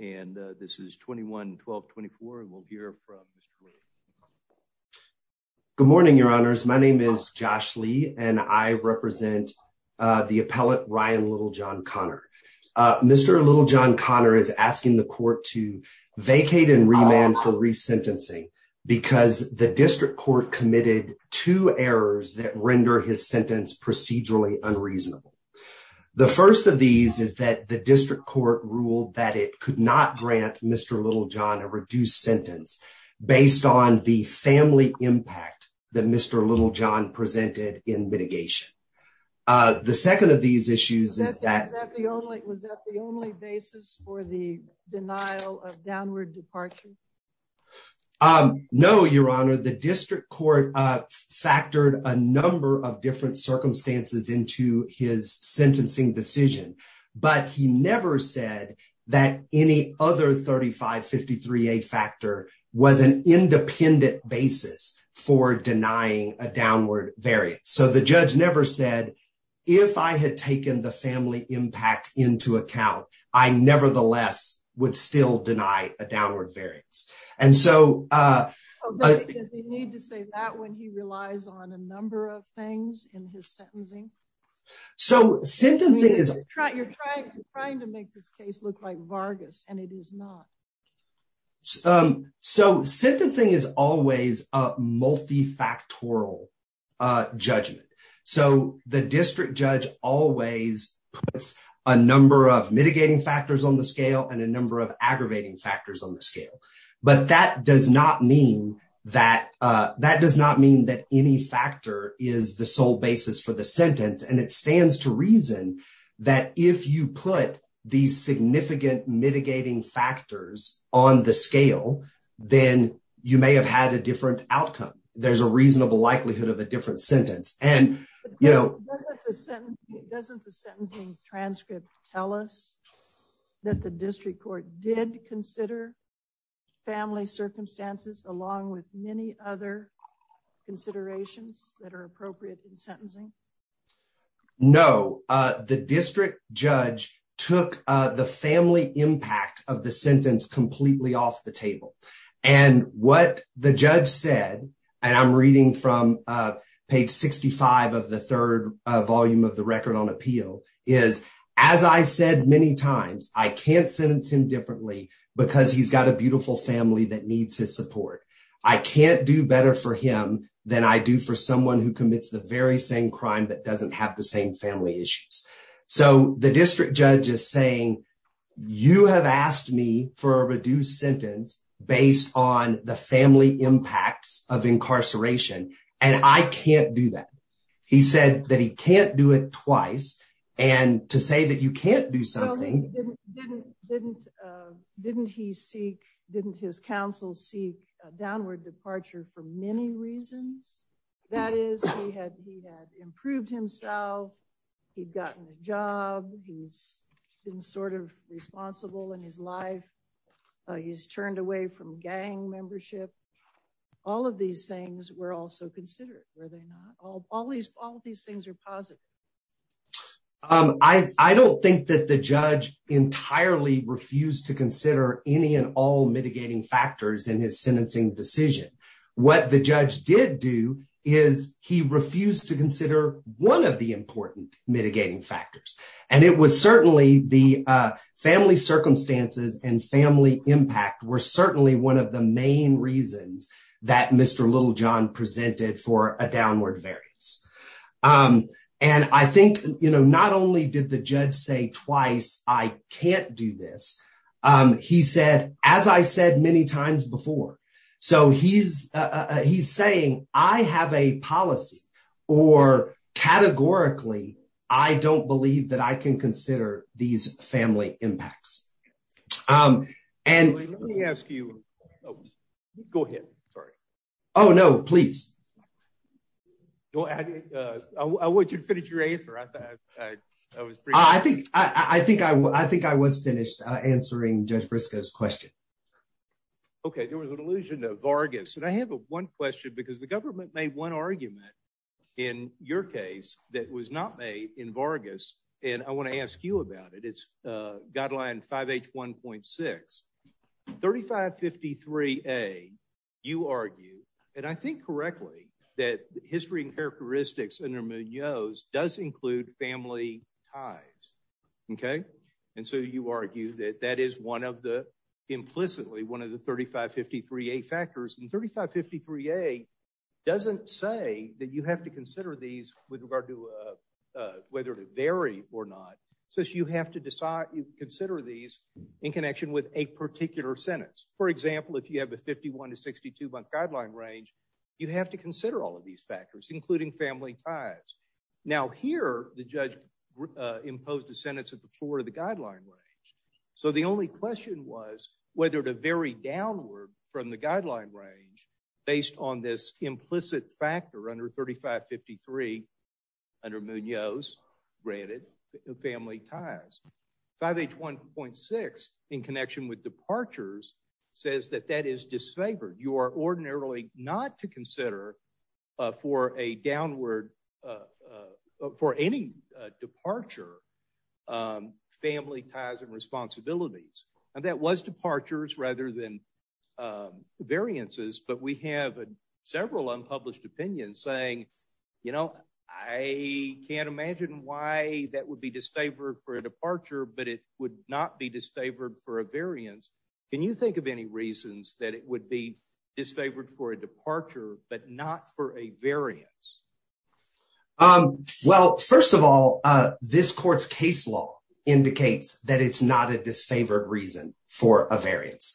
and this is 21-12-24 and we'll hear from Mr. Lee. Good morning, your honors. My name is Josh Lee and I represent the appellate Ryan Littlejohn-Conner. Mr. Littlejohn-Conner is asking the court to vacate and remand for re-sentencing because the district court committed two errors that render his sentence procedurally unreasonable. The first of these is that the district court ruled that it could not grant Mr. Littlejohn a reduced sentence based on the family impact that Mr. Littlejohn presented in mitigation. The second of these issues is that... Was that the only basis for the denial of downward departure? No, your honor. The district court factored a number of different circumstances into his sentencing decision, but he never said that any other 3553A factor was an independent basis for denying a downward variant. So the judge never said, if I had taken the family impact into account, I nevertheless would still deny a downward variance. And so... Does he need to say that when he relies on a number of things in his sentencing? So sentencing is... You're trying to make this case look like Vargas and it is not. So sentencing is always a multifactorial judgment. So the district judge always puts a number of mitigating factors on the scale and a number of aggravating factors on the scale. But that does not mean that any factor is the sole basis for the sentence. And it stands to reason that if you put these significant mitigating factors on the scale, then you may have had a different outcome. There's a reasonable likelihood of a different sentence. Doesn't the sentencing transcript tell us that the district court did consider family circumstances along with many other considerations that are appropriate in sentencing? No, the district judge took the family impact of the sentence completely off the table. And what the judge said, and I'm reading from page 65 of the third volume of the Record on Appeal, is, As I said many times, I can't sentence him differently because he's got a beautiful family that needs his support. I can't do better for him than I do for someone who commits the very same crime that doesn't have the same family issues. So the district judge is saying, you have asked me for a reduced sentence based on the family impacts of incarceration. And I can't do that. He said that he can't do it twice. And to say that you can't do something. Didn't he seek, didn't his counsel seek a downward departure for many reasons? That is, he had improved himself, he'd gotten a job, he's been sort of responsible in his life, he's turned away from gang membership. All of these things were also considered, were they not? All these things are positive. I don't think that the judge entirely refused to consider any and all mitigating factors in his sentencing decision. What the judge did do is he refused to consider one of the important mitigating factors. And it was certainly the family circumstances and family impact were certainly one of the main reasons that Mr. Littlejohn presented for a downward variance. And I think, you know, not only did the judge say twice, I can't do this. He said, as I said many times before. So he's, he's saying, I have a policy, or categorically, I don't believe that I can consider these family impacts. And let me ask you. Go ahead. Sorry. Oh no, please. Go ahead. I want you to finish your answer. I think, I think I will. I think I was finished answering Judge Briscoe's question. Okay, there was an allusion to Vargas and I have one question because the government made one argument in your case that was not made in Vargas, and I want to ask you about it it's guideline 5H1.6. 3553A, you argue, and I think correctly, that history and characteristics under Munoz does include family ties. Okay. And so you argue that that is one of the implicitly one of the 3553A factors and 3553A doesn't say that you have to consider these with regard to whether to vary or not. So you have to decide, you consider these in connection with a particular sentence. For example, if you have a 51 to 62 month guideline range, you have to consider all of these factors, including family ties. Now here, the judge imposed a sentence at the floor of the guideline range. So the only question was whether to vary downward from the guideline range based on this implicit factor under 3553 under Munoz granted family ties. 5H1.6 in connection with departures says that that is disfavored. You are ordinarily not to consider for a downward for any departure family ties and responsibilities. And that was departures rather than variances. But we have several unpublished opinions saying, you know, I can't imagine why that would be disfavored for a departure, but it would not be disfavored for a variance. Can you think of any reasons that it would be disfavored for a departure, but not for a variance? Well, first of all, this court's case law indicates that it's not a disfavored reason for a variance.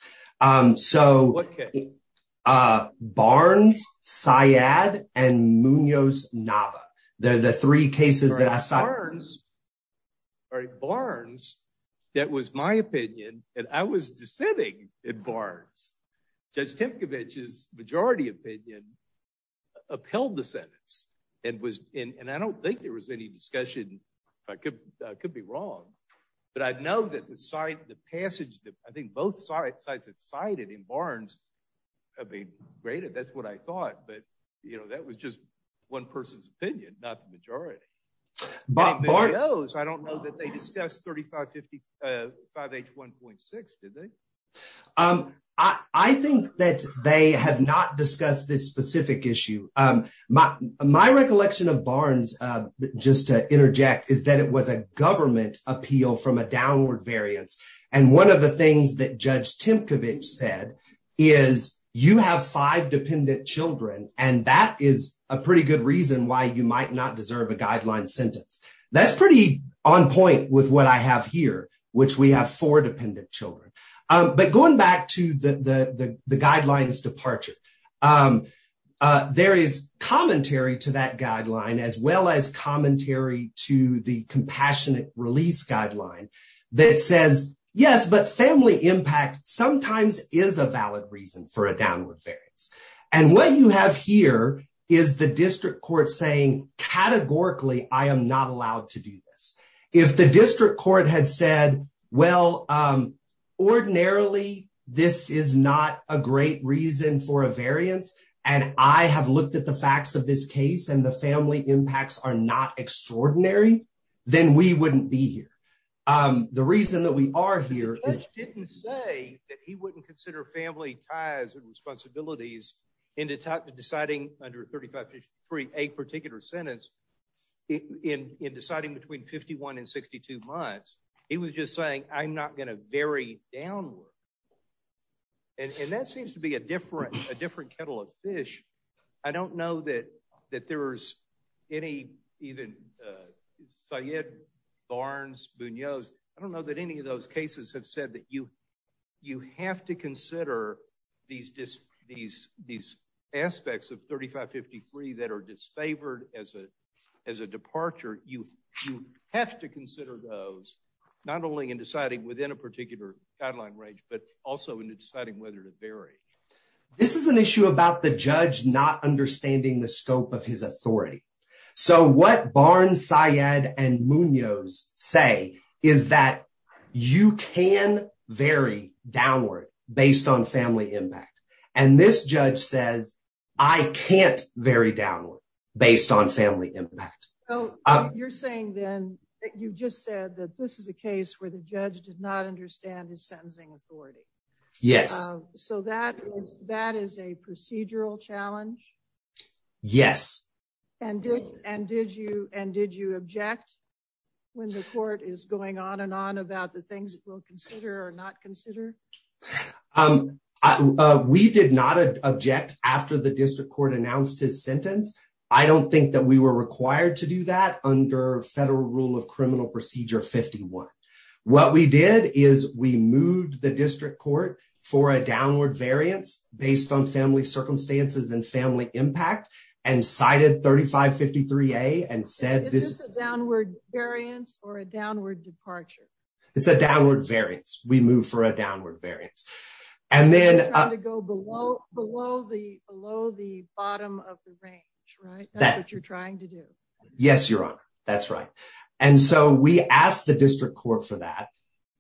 So Barnes, Syed and Munoz-Nava. Barnes, that was my opinion. And I was dissenting in Barnes. Judge Temkevich's majority opinion upheld the sentence. And I don't think there was any discussion. I could be wrong. But I know that the passage that I think both sides have cited in Barnes have been graded. That's what I thought. But, you know, that was just one person's opinion, not the majority. Munoz, I don't know that they discussed 5H1.6, did they? I think that they have not discussed this specific issue. My recollection of Barnes, just to interject, is that it was a government appeal from a downward variance. And one of the things that Judge Temkevich said is you have five dependent children. And that is a pretty good reason why you might not deserve a guideline sentence. That's pretty on point with what I have here, which we have four dependent children. But going back to the guidelines departure, there is commentary to that guideline as well as commentary to the compassionate release guideline that says, yes, but family impact sometimes is a valid reason for a downward variance. And what you have here is the district court saying categorically I am not allowed to do this. If the district court had said, well, ordinarily, this is not a great reason for a variance, and I have looked at the facts of this case and the family impacts are not extraordinary, then we wouldn't be here. The reason that we are here is... Judge didn't say that he wouldn't consider family ties and responsibilities in deciding under 3553 a particular sentence in deciding between 51 and 62 months. He was just saying, I'm not going to vary downward. And that seems to be a different kettle of fish. I don't know that there is any even... I don't know that any of those cases have said that you have to consider these aspects of 3553 that are disfavored as a departure. You have to consider those, not only in deciding within a particular guideline range, but also in deciding whether to vary. This is an issue about the judge not understanding the scope of his authority. So what Barnes, Syed, and Munoz say is that you can vary downward based on family impact. And this judge says, I can't vary downward based on family impact. You're saying then that you just said that this is a case where the judge did not understand his sentencing authority. Yes. So that is a procedural challenge? Yes. And did you object when the court is going on and on about the things that we'll consider or not consider? We did not object after the district court announced his sentence. I don't think that we were required to do that under federal rule of criminal procedure 51. What we did is we moved the district court for a downward variance based on family circumstances and family impact and cited 3553A and said... Is this a downward variance or a downward departure? It's a downward variance. We moved for a downward variance. And then... Trying to go below the bottom of the range, right? That's what you're trying to do. Yes, Your Honor. That's right. And so we asked the district court for that.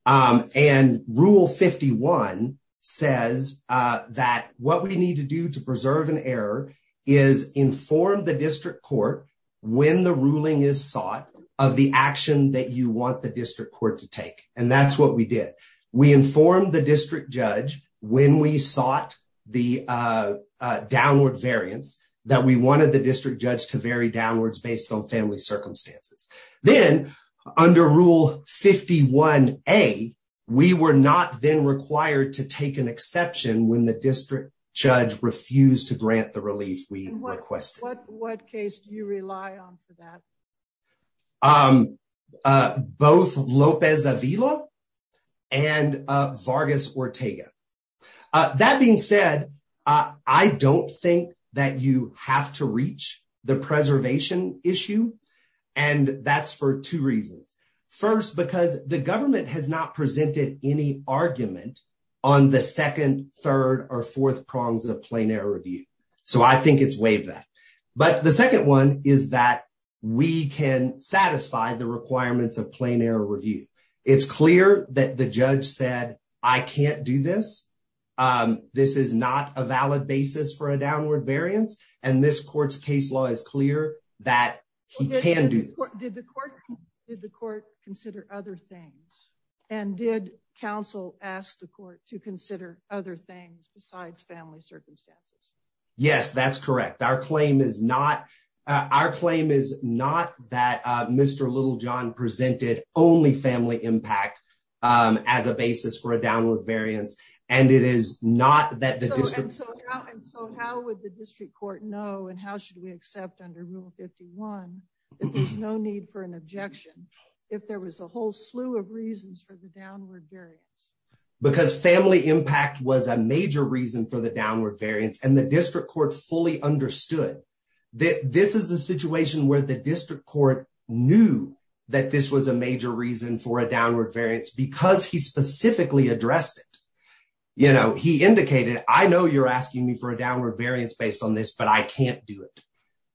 And rule 51 says that what we need to do to preserve an error is inform the district court when the ruling is sought of the action that you want the district court to take. And that's what we did. We informed the district judge when we sought the downward variance that we wanted the district judge to vary downwards based on family circumstances. Then, under rule 51A, we were not then required to take an exception when the district judge refused to grant the relief we requested. What case do you rely on for that? Both Lopez Avila and Vargas Ortega. That being said, I don't think that you have to reach the preservation issue. And that's for two reasons. First, because the government has not presented any argument on the second, third, or fourth prongs of plain error review. So I think it's waived that. But the second one is that we can satisfy the requirements of plain error review. It's clear that the judge said, I can't do this. This is not a valid basis for a downward variance. And this court's case law is clear that he can do this. Did the court consider other things? And did counsel ask the court to consider other things besides family circumstances? Yes, that's correct. Our claim is not that Mr. Littlejohn presented only family impact as a basis for a downward variance. And it is not that the district. And so how would the district court know and how should we accept under rule 51 that there's no need for an objection if there was a whole slew of reasons for the downward variance? Because family impact was a major reason for the downward variance. And the district court fully understood that this is a situation where the district court knew that this was a major reason for a downward variance because he specifically addressed it. You know, he indicated, I know you're asking me for a downward variance based on this, but I can't do it.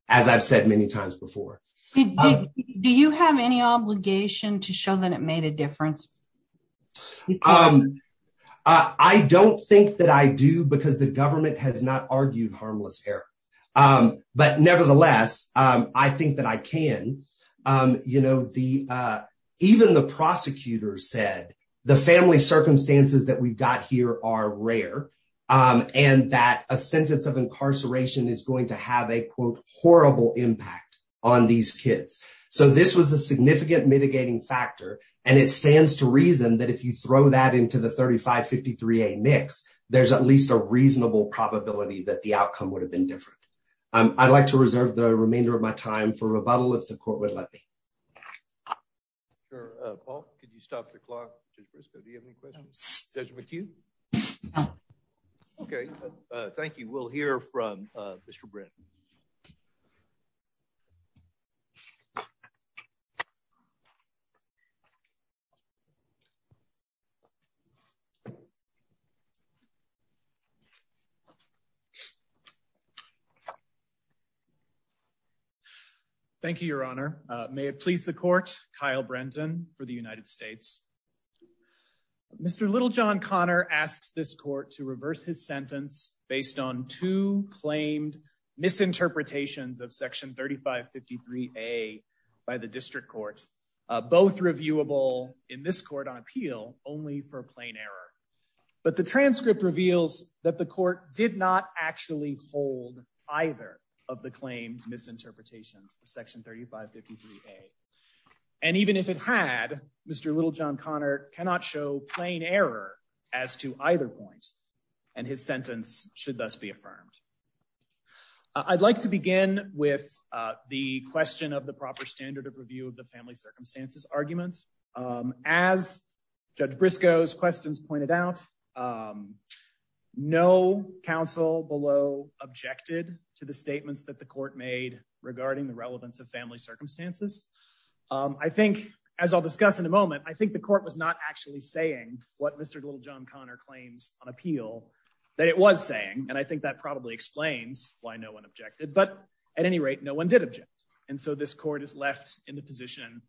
As I've said many times before, do you have any obligation to show that it made a difference? I don't think that I do, because the government has not argued harmless error. But nevertheless, I think that I can. You know, the even the prosecutors said the family circumstances that we've got here are rare and that a sentence of incarceration is going to have a quote horrible impact on these kids. So this was a significant mitigating factor. And it stands to reason that if you throw that into the 3553 a mix, there's at least a reasonable probability that the outcome would have been different. I'd like to reserve the remainder of my time for rebuttal if the court would like. Paul, could you stop the clock? Do you have any questions? OK, thank you. We'll hear from Mr. Britt. Thank you, Your Honor. May it please the court. Thank you, Your Honor. Thank you. Thank you. by the district courts, both reviewable in this court on appeal only for plain error. But the transcript reveals that the court did not actually hold either of the claimed misinterpretations of Section 3553. And even if it had Mr. Little, John Connor cannot show plain error as to either point. And his sentence should thus be affirmed. I'd like to begin with the question of the proper standard of review of the family circumstances argument. As Judge Briscoe's questions pointed out, no council below objected to the statements that the court made regarding the relevance of family circumstances. I think, as I'll discuss in a moment, I think the court was not actually saying what Mr. Little John Connor claims on appeal that it was saying. And I think that probably explains why no one objected. But at any rate, no one did object. And so this court is left in the position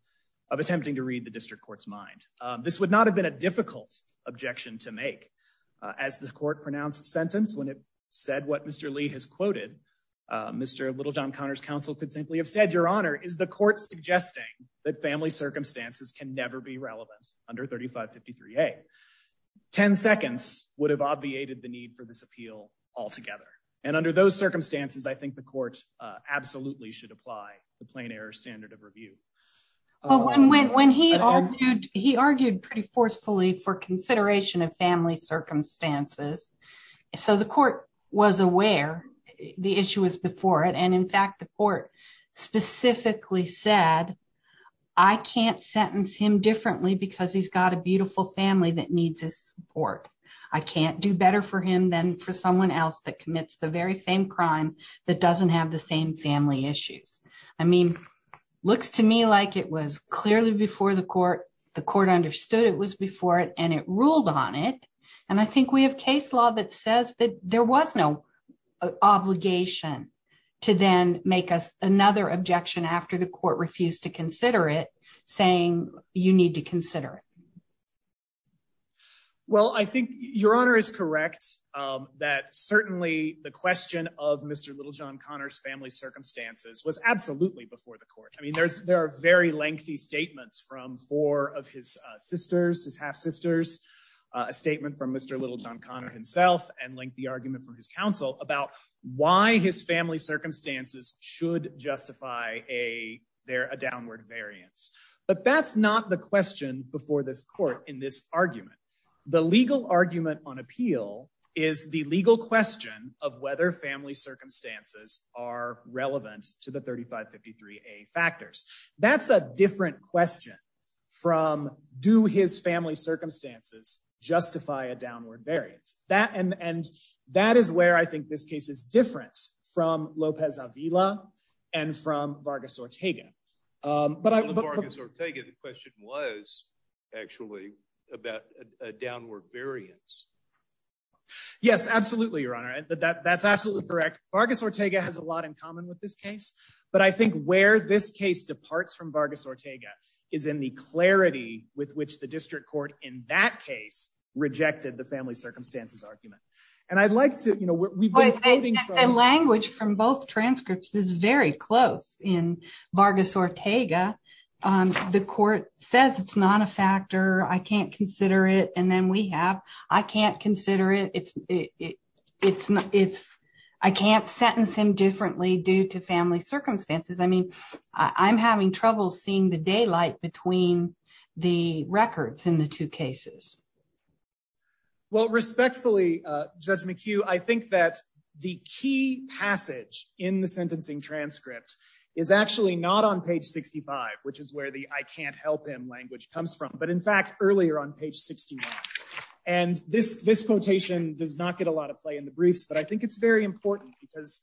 of attempting to read the district court's mind. This would not have been a difficult objection to make as the court pronounced sentence. When it said what Mr. Lee has quoted, Mr. Little, John Connor's counsel could simply have said, Your Honor, is the court suggesting that family circumstances can never be relevant under 3553. 10 seconds would have obviated the need for this appeal altogether. And under those circumstances, I think the court absolutely should apply the plain error standard of review. When he argued, he argued pretty forcefully for consideration of family circumstances. So the court was aware the issue was before it. And in fact, the court specifically said, I can't sentence him differently because he's got a beautiful family that needs his support. I can't do better for him than for someone else that commits the very same crime that doesn't have the same family issues. I mean, looks to me like it was clearly before the court. The court understood it was before it and it ruled on it. And I think we have case law that says that there was no obligation to then make us another objection after the court refused to consider it, saying you need to consider it. Well, I think Your Honor is correct that certainly the question of Mr. Little, John Connor's family circumstances was absolutely before the court. I mean, there's there are very lengthy statements from four of his sisters, his half sisters, a statement from Mr. Little, John Connor himself and lengthy argument from his counsel about why his family circumstances should justify a there a downward variance. But that's not the question before this court in this argument. The legal argument on appeal is the legal question of whether family circumstances are relevant to the thirty five fifty three a factors. That's a different question from do his family circumstances justify a downward variance that and that is where I think this case is different from Lopez Avila and from Vargas Ortega. But Vargas Ortega, the question was actually about a downward variance. Yes, absolutely, Your Honor. That's absolutely correct. Vargas Ortega has a lot in common with this case. But I think where this case departs from Vargas Ortega is in the clarity with which the district court in that case rejected the family circumstances argument. And I'd like to know what language from both transcripts is very close in Vargas Ortega. The court says it's not a factor. I can't consider it. And then we have I can't consider it. It's it's it's I can't sentence him differently due to family circumstances. I mean, I'm having trouble seeing the daylight between the records in the two cases. Well, respectfully, Judge McHugh, I think that the key passage in the sentencing transcript is actually not on page sixty five, which is where the I can't help him language comes from. But in fact, earlier on page sixty one. And this this quotation does not get a lot of play in the briefs. But I think it's very important because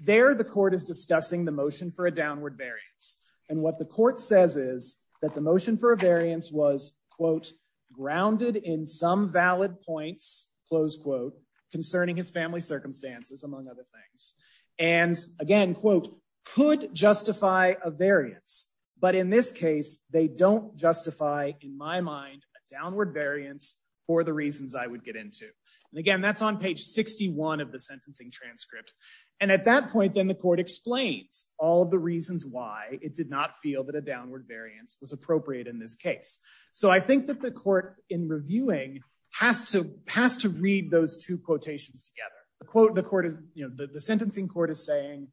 there the court is discussing the motion for a downward variance. And what the court says is that the motion for a variance was, quote, grounded in some valid points. Close quote concerning his family circumstances, among other things. And again, quote, could justify a variance. But in this case, they don't justify, in my mind, a downward variance for the reasons I would get into. And again, that's on page sixty one of the sentencing transcript. And at that point, then the court explains all the reasons why it did not feel that a downward variance was appropriate in this case. So I think that the court in reviewing has to pass to read those two quotations together. A quote, the court is the sentencing court is saying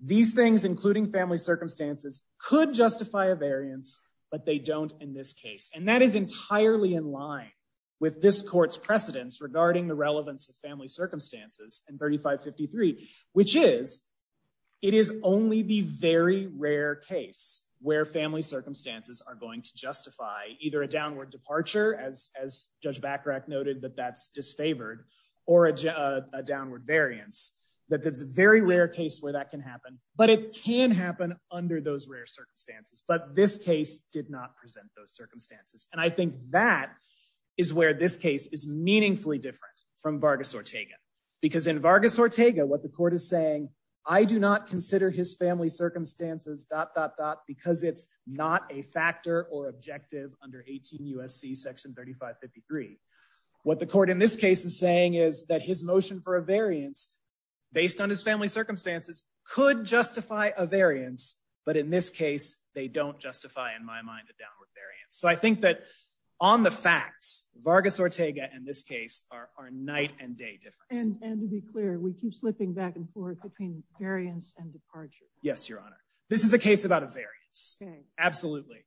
these things, including family circumstances, could justify a variance. But they don't in this case. And that is entirely in line with this court's precedents regarding the relevance of family circumstances. And thirty five fifty three, which is it is only the very rare case where family circumstances are going to justify either a downward departure, as as Judge Bacharach noted, that that's disfavored or a downward variance, that that's a very rare case where that can happen. But it can happen under those rare circumstances. But this case did not present those circumstances. And I think that is where this case is meaningfully different from Vargas Ortega, because in Vargas Ortega, what the court is saying, I do not consider his family circumstances dot, dot, dot, because it's not a factor or objective under 18 U.S.C. Section thirty five fifty three. What the court in this case is saying is that his motion for a variance based on his family circumstances could justify a variance. But in this case, they don't justify, in my mind, a downward variance. So I think that on the facts, Vargas Ortega and this case are night and day difference. And to be clear, we keep slipping back and forth between variance and departure. Yes, Your Honor. This is a case about a variance. Absolutely.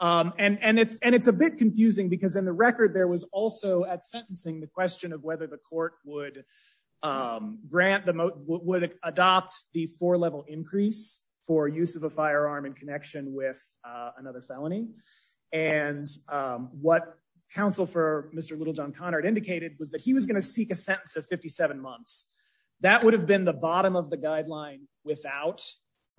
And it's and it's a bit confusing because in the record, there was also at sentencing the question of whether the court would grant the would adopt the four level increase for use of a firearm in connection with another felony. And what counsel for Mr. Little John Conard indicated was that he was going to seek a sentence of 57 months. That would have been the bottom of the guideline without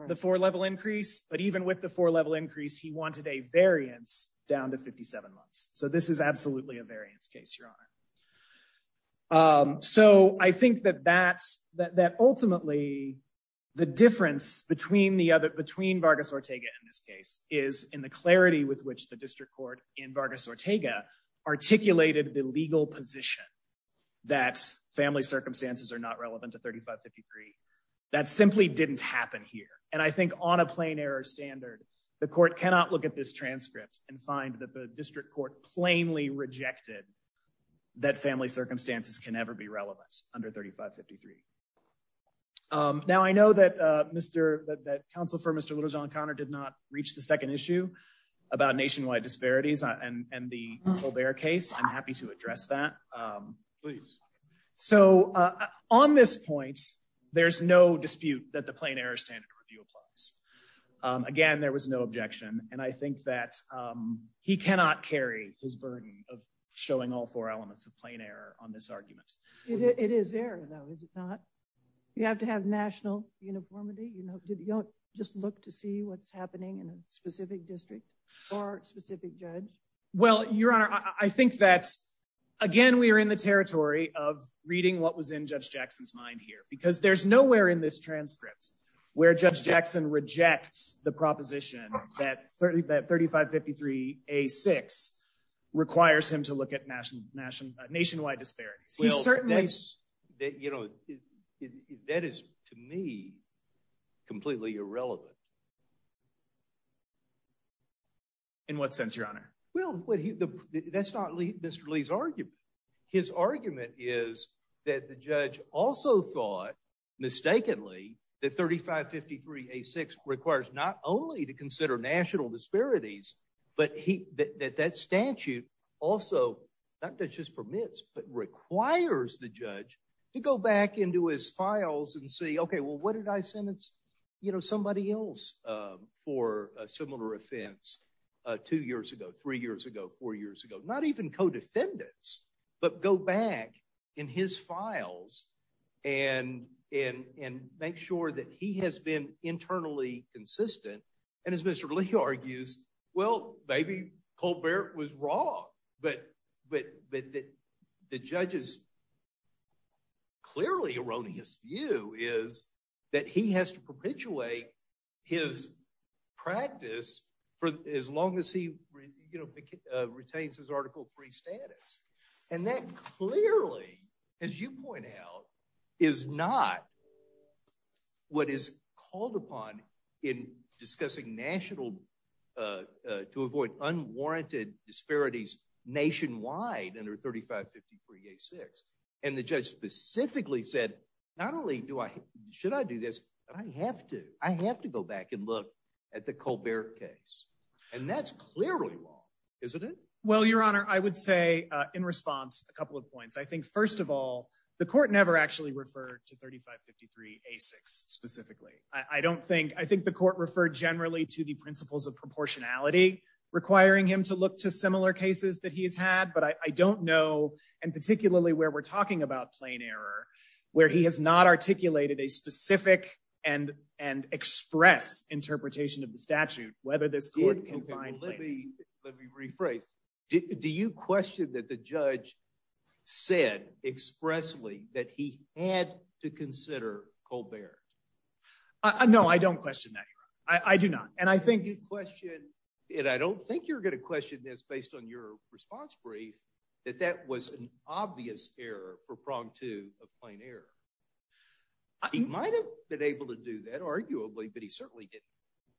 the four level increase. But even with the four level increase, he wanted a variance down to 57 months. So this is absolutely a variance case, Your Honor. So I think that that's that ultimately the difference between the other between Vargas Ortega in this case is in the clarity with which the district court in Vargas Ortega articulated the legal position that family circumstances are not relevant to 3553. That simply didn't happen here. And I think on a plain error standard, the court cannot look at this transcript and find that the district court plainly rejected that family circumstances can ever be relevant under 3553. Now I know that Mr. that counsel for Mr. Little John Conard did not reach the second issue about nationwide disparities and the case. I'm happy to address that. Please. So on this point, there's no dispute that the plain error standard review applies. Again, there was no objection. And I think that he cannot carry his burden of showing all four elements of plain error on this argument. It is there, though, is it not? You have to have national uniformity. You don't just look to see what's happening in a specific district or specific judge. Well, your honor, I think that, again, we are in the territory of reading what was in Judge Jackson's mind here, because there's nowhere in this transcript where Judge Jackson rejects the proposition that 30 that 3553 a six requires him to look at national national nationwide disparities. Well, certainly, you know, that is, to me, completely irrelevant. In what sense, your honor? Well, that's not Mr. Lee's argument. His argument is that the judge also thought mistakenly that 3553 a six requires not only to consider national disparities, but that that statute also not just permits, but requires the judge to go back into his files and say, OK, well, what did I sentence, you know, somebody else for a similar offense? Two years ago, three years ago, four years ago, not even codefendants, but go back in his files and in and make sure that he has been internally consistent. And as Mr. Lee argues, well, maybe Colbert was wrong, but but that the judges. Clearly erroneous view is that he has to perpetuate his practice for as long as he retains his article free status. And that clearly, as you point out, is not what is called upon in discussing national to avoid unwarranted disparities nationwide under 3553 a six. And the judge specifically said, not only do I should I do this, but I have to I have to go back and look at the Colbert case. And that's clearly wrong, isn't it? Well, Your Honor, I would say in response, a couple of points. I think, first of all, the court never actually referred to 3553 a six specifically. I don't think I think the court referred generally to the principles of proportionality requiring him to look to similar cases that he has had. But I don't know. And particularly where we're talking about plain error, where he has not articulated a specific and and express interpretation of the statute, whether this court can find. Let me let me rephrase. Do you question that the judge said expressly that he had to consider Colbert? No, I don't question that. I do not. And I think question it. I don't think you're going to question this based on your response brief, that that was an obvious error for prong to a plain error. He might have been able to do that, arguably, but he certainly didn't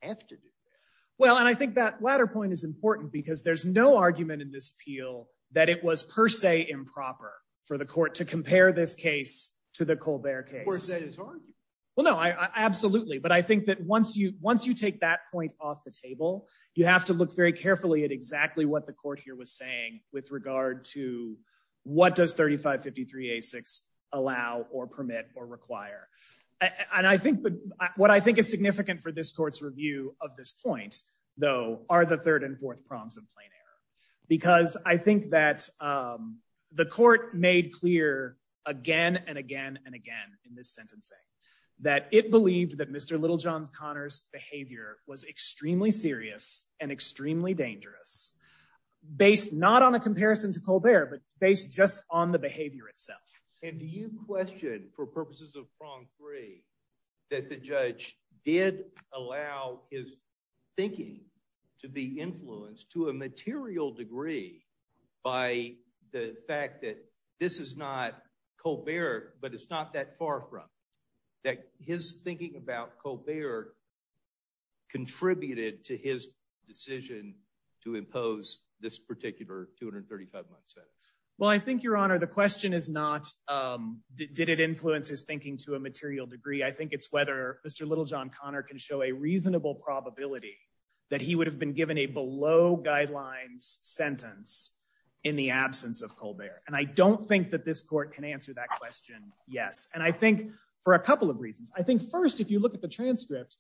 have to do that. Well, and I think that latter point is important because there's no argument in this appeal that it was per se improper for the court to compare this case to the Colbert case. Well, no, I absolutely. But I think that once you once you take that point off the table, you have to look very carefully at exactly what the court here was saying with regard to what does 3553 a six allow or permit or require. And I think what I think is significant for this court's review of this point, though, are the third and fourth prongs of plain error, because I think that the court made clear again and again and again in this sentencing that it believed that Mr. Littlejohn's Connors behavior was extremely serious and extremely dangerous based not on a comparison to Colbert, but based just on the behavior itself. And do you question, for purposes of prong three, that the judge did allow his thinking to be influenced to a material degree by the fact that this is not Colbert, but it's not that far from that. His thinking about Colbert. Contributed to his decision to impose this particular 235 month sentence. Well, I think, Your Honor, the question is not, did it influence his thinking to a material degree? I think it's whether Mr. Littlejohn Connor can show a reasonable probability that he would have been given a below guidelines sentence in the absence of Colbert. And I don't think that this court can answer that question. Yes. And I think for a couple of reasons, I think, first, if you look at the transcript,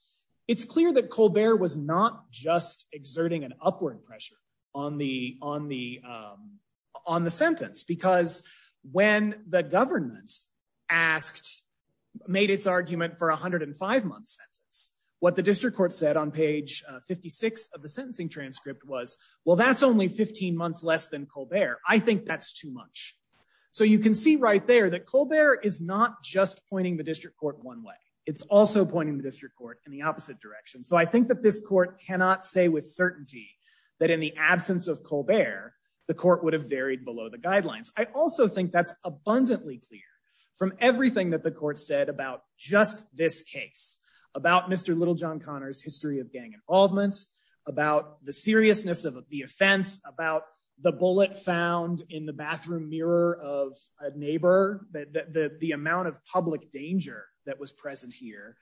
it's clear that Colbert was not just exerting an upward pressure on the on the on the sentence, because when the government asked made its argument for 105 month sentence, what the district court said on page 56 of the sentencing transcript was, well, that's only 15 months less than Colbert. I think that's too much. So you can see right there that Colbert is not just pointing the district court one way. It's also pointing the district court in the opposite direction. So I think that this court cannot say with certainty that in the absence of Colbert, the court would have varied below the guidelines. I also think that's abundantly clear from everything that the court said about just this case, about Mr. Littlejohn Connor's history of gang involvement, about the seriousness of the offense, about the bullet found in the bathroom mirror of a neighbor. The amount of public danger that was present here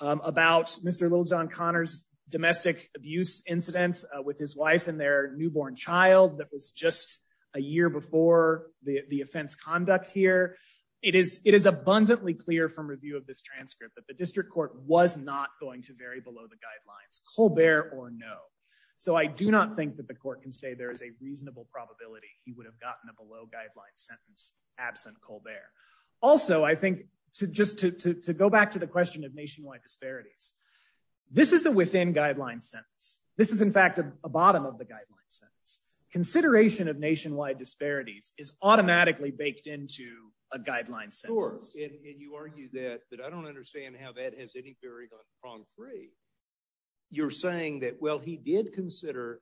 about Mr. Littlejohn Connor's domestic abuse incidents with his wife and their newborn child that was just a year before the offense conduct here. It is it is abundantly clear from review of this transcript that the district court was not going to vary below the guidelines Colbert or no. So I do not think that the court can say there is a reasonable probability he would have gotten a below guideline sentence absent Colbert. Also, I think just to go back to the question of nationwide disparities, this is a within guideline sentence. This is, in fact, a bottom of the guideline sentence. Consideration of nationwide disparities is automatically baked into a guideline sentence. Of course. And you argue that I don't understand how that has any bearing on prong three. You're saying that, well, he did consider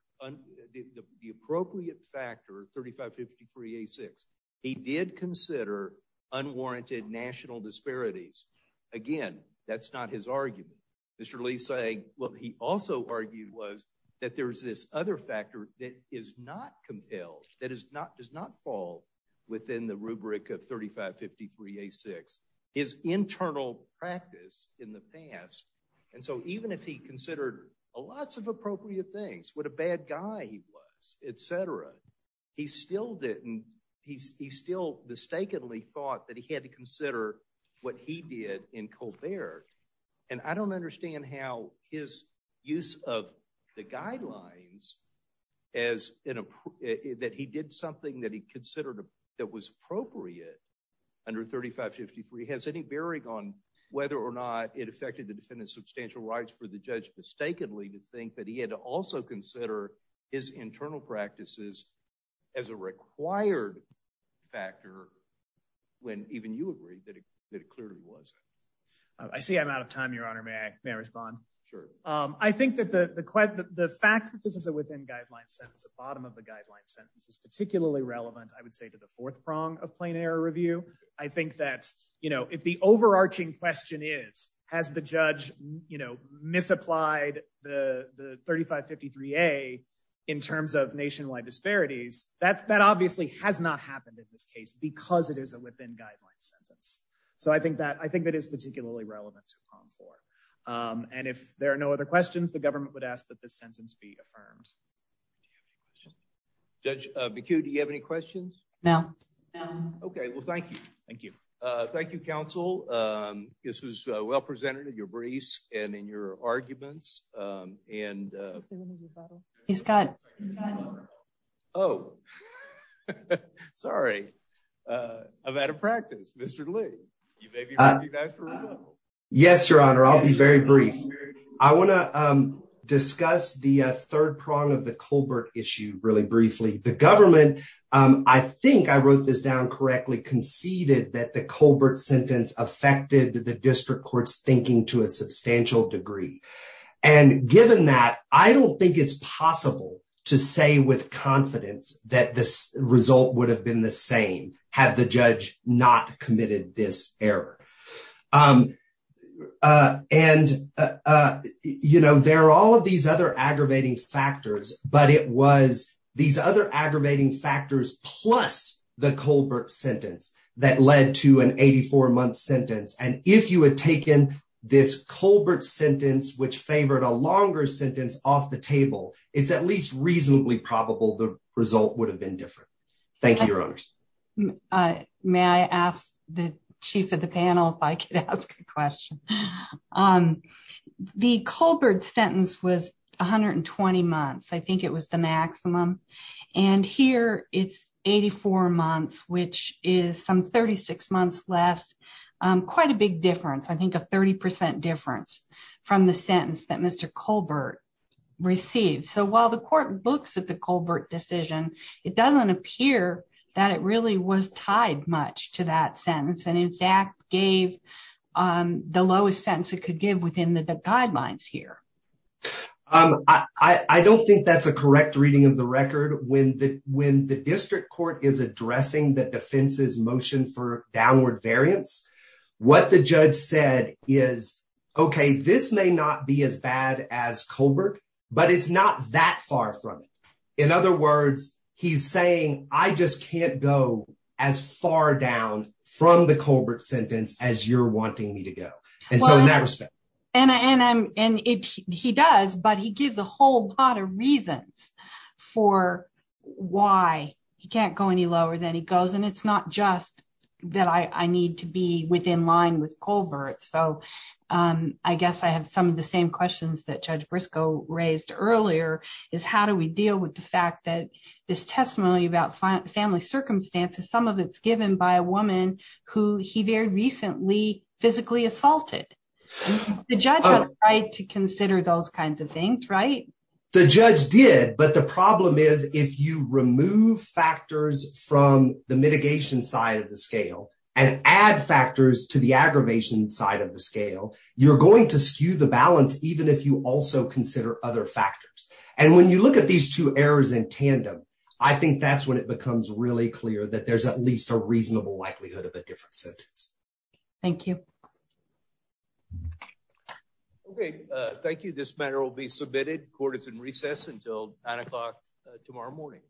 the appropriate factor, 3553A6. He did consider unwarranted national disparities. Again, that's not his argument. Mr. Lee's saying what he also argued was that there's this other factor that is not compelled, that is not does not fall within the rubric of 3553A6. His internal practice in the past. And so even if he considered a lots of appropriate things, what a bad guy he was, etc. He still didn't. He still mistakenly thought that he had to consider what he did in Colbert. And I don't understand how his use of the guidelines that he did something that he considered that was appropriate under 3553 has any bearing on whether or not it affected the defendant's substantial rights for the judge mistakenly to think that he had to also consider his internal practices. As a required factor, when even you agree that it clearly was. I see I'm out of time, Your Honor. May I respond? Sure. I think that the fact that this is a within-guideline sentence, the bottom of the guideline sentence, is particularly relevant, I would say, to the fourth prong of plain error review. I think that, you know, if the overarching question is, has the judge, you know, misapplied the 3553A in terms of nationwide disparities, that obviously has not happened in this case because it is a within-guideline sentence. So I think that I think that is particularly relevant to prong four. And if there are no other questions, the government would ask that this sentence be affirmed. Judge Baku, do you have any questions? No. Okay, well, thank you. Thank you. Thank you, counsel. This was well presented in your briefs and in your arguments. And he's got. Oh, sorry. I'm out of practice, Mr. Lee. Yes, Your Honor, I'll be very brief. I want to discuss the third prong of the Colbert issue really briefly. The government, I think I wrote this down correctly, conceded that the Colbert sentence affected the district court's thinking to a substantial degree. And given that, I don't think it's possible to say with confidence that this result would have been the same had the judge not committed this error. And, you know, there are all of these other aggravating factors, but it was these other aggravating factors, plus the Colbert sentence that led to an 84 month sentence. And if you had taken this Colbert sentence, which favored a longer sentence off the table, it's at least reasonably probable the result would have been different. May I ask the chief of the panel if I could ask a question on the Colbert sentence was 120 months. I think it was the maximum. And here it's 84 months, which is some 36 months less. Quite a big difference. I think a 30 percent difference from the sentence that Mr. Colbert received. So while the court looks at the Colbert decision, it doesn't appear that it really was tied much to that sentence and in fact gave the lowest sense it could give within the guidelines here. I don't think that's a correct reading of the record when the when the district court is addressing the defense's motion for downward variance. What the judge said is, OK, this may not be as bad as Colbert, but it's not that far from it. In other words, he's saying, I just can't go as far down from the Colbert sentence as you're wanting me to go. And I'm and he does. But he gives a whole lot of reasons for why he can't go any lower than he goes. And it's not just that I need to be within line with Colbert. So I guess I have some of the same questions that Judge Briscoe raised earlier is how do we deal with the fact that this testimony about family circumstances, some of it's given by a woman who he very recently physically assaulted the judge to consider those kinds of things. Right. The judge did. But the problem is, if you remove factors from the mitigation side of the scale and add factors to the aggravation side of the scale, you're going to skew the balance even if you also consider other factors. And when you look at these two errors in tandem, I think that's when it becomes really clear that there's at least a reasonable likelihood of a different sentence. Thank you. OK, thank you. This matter will be submitted. Court is in recess until nine o'clock tomorrow morning.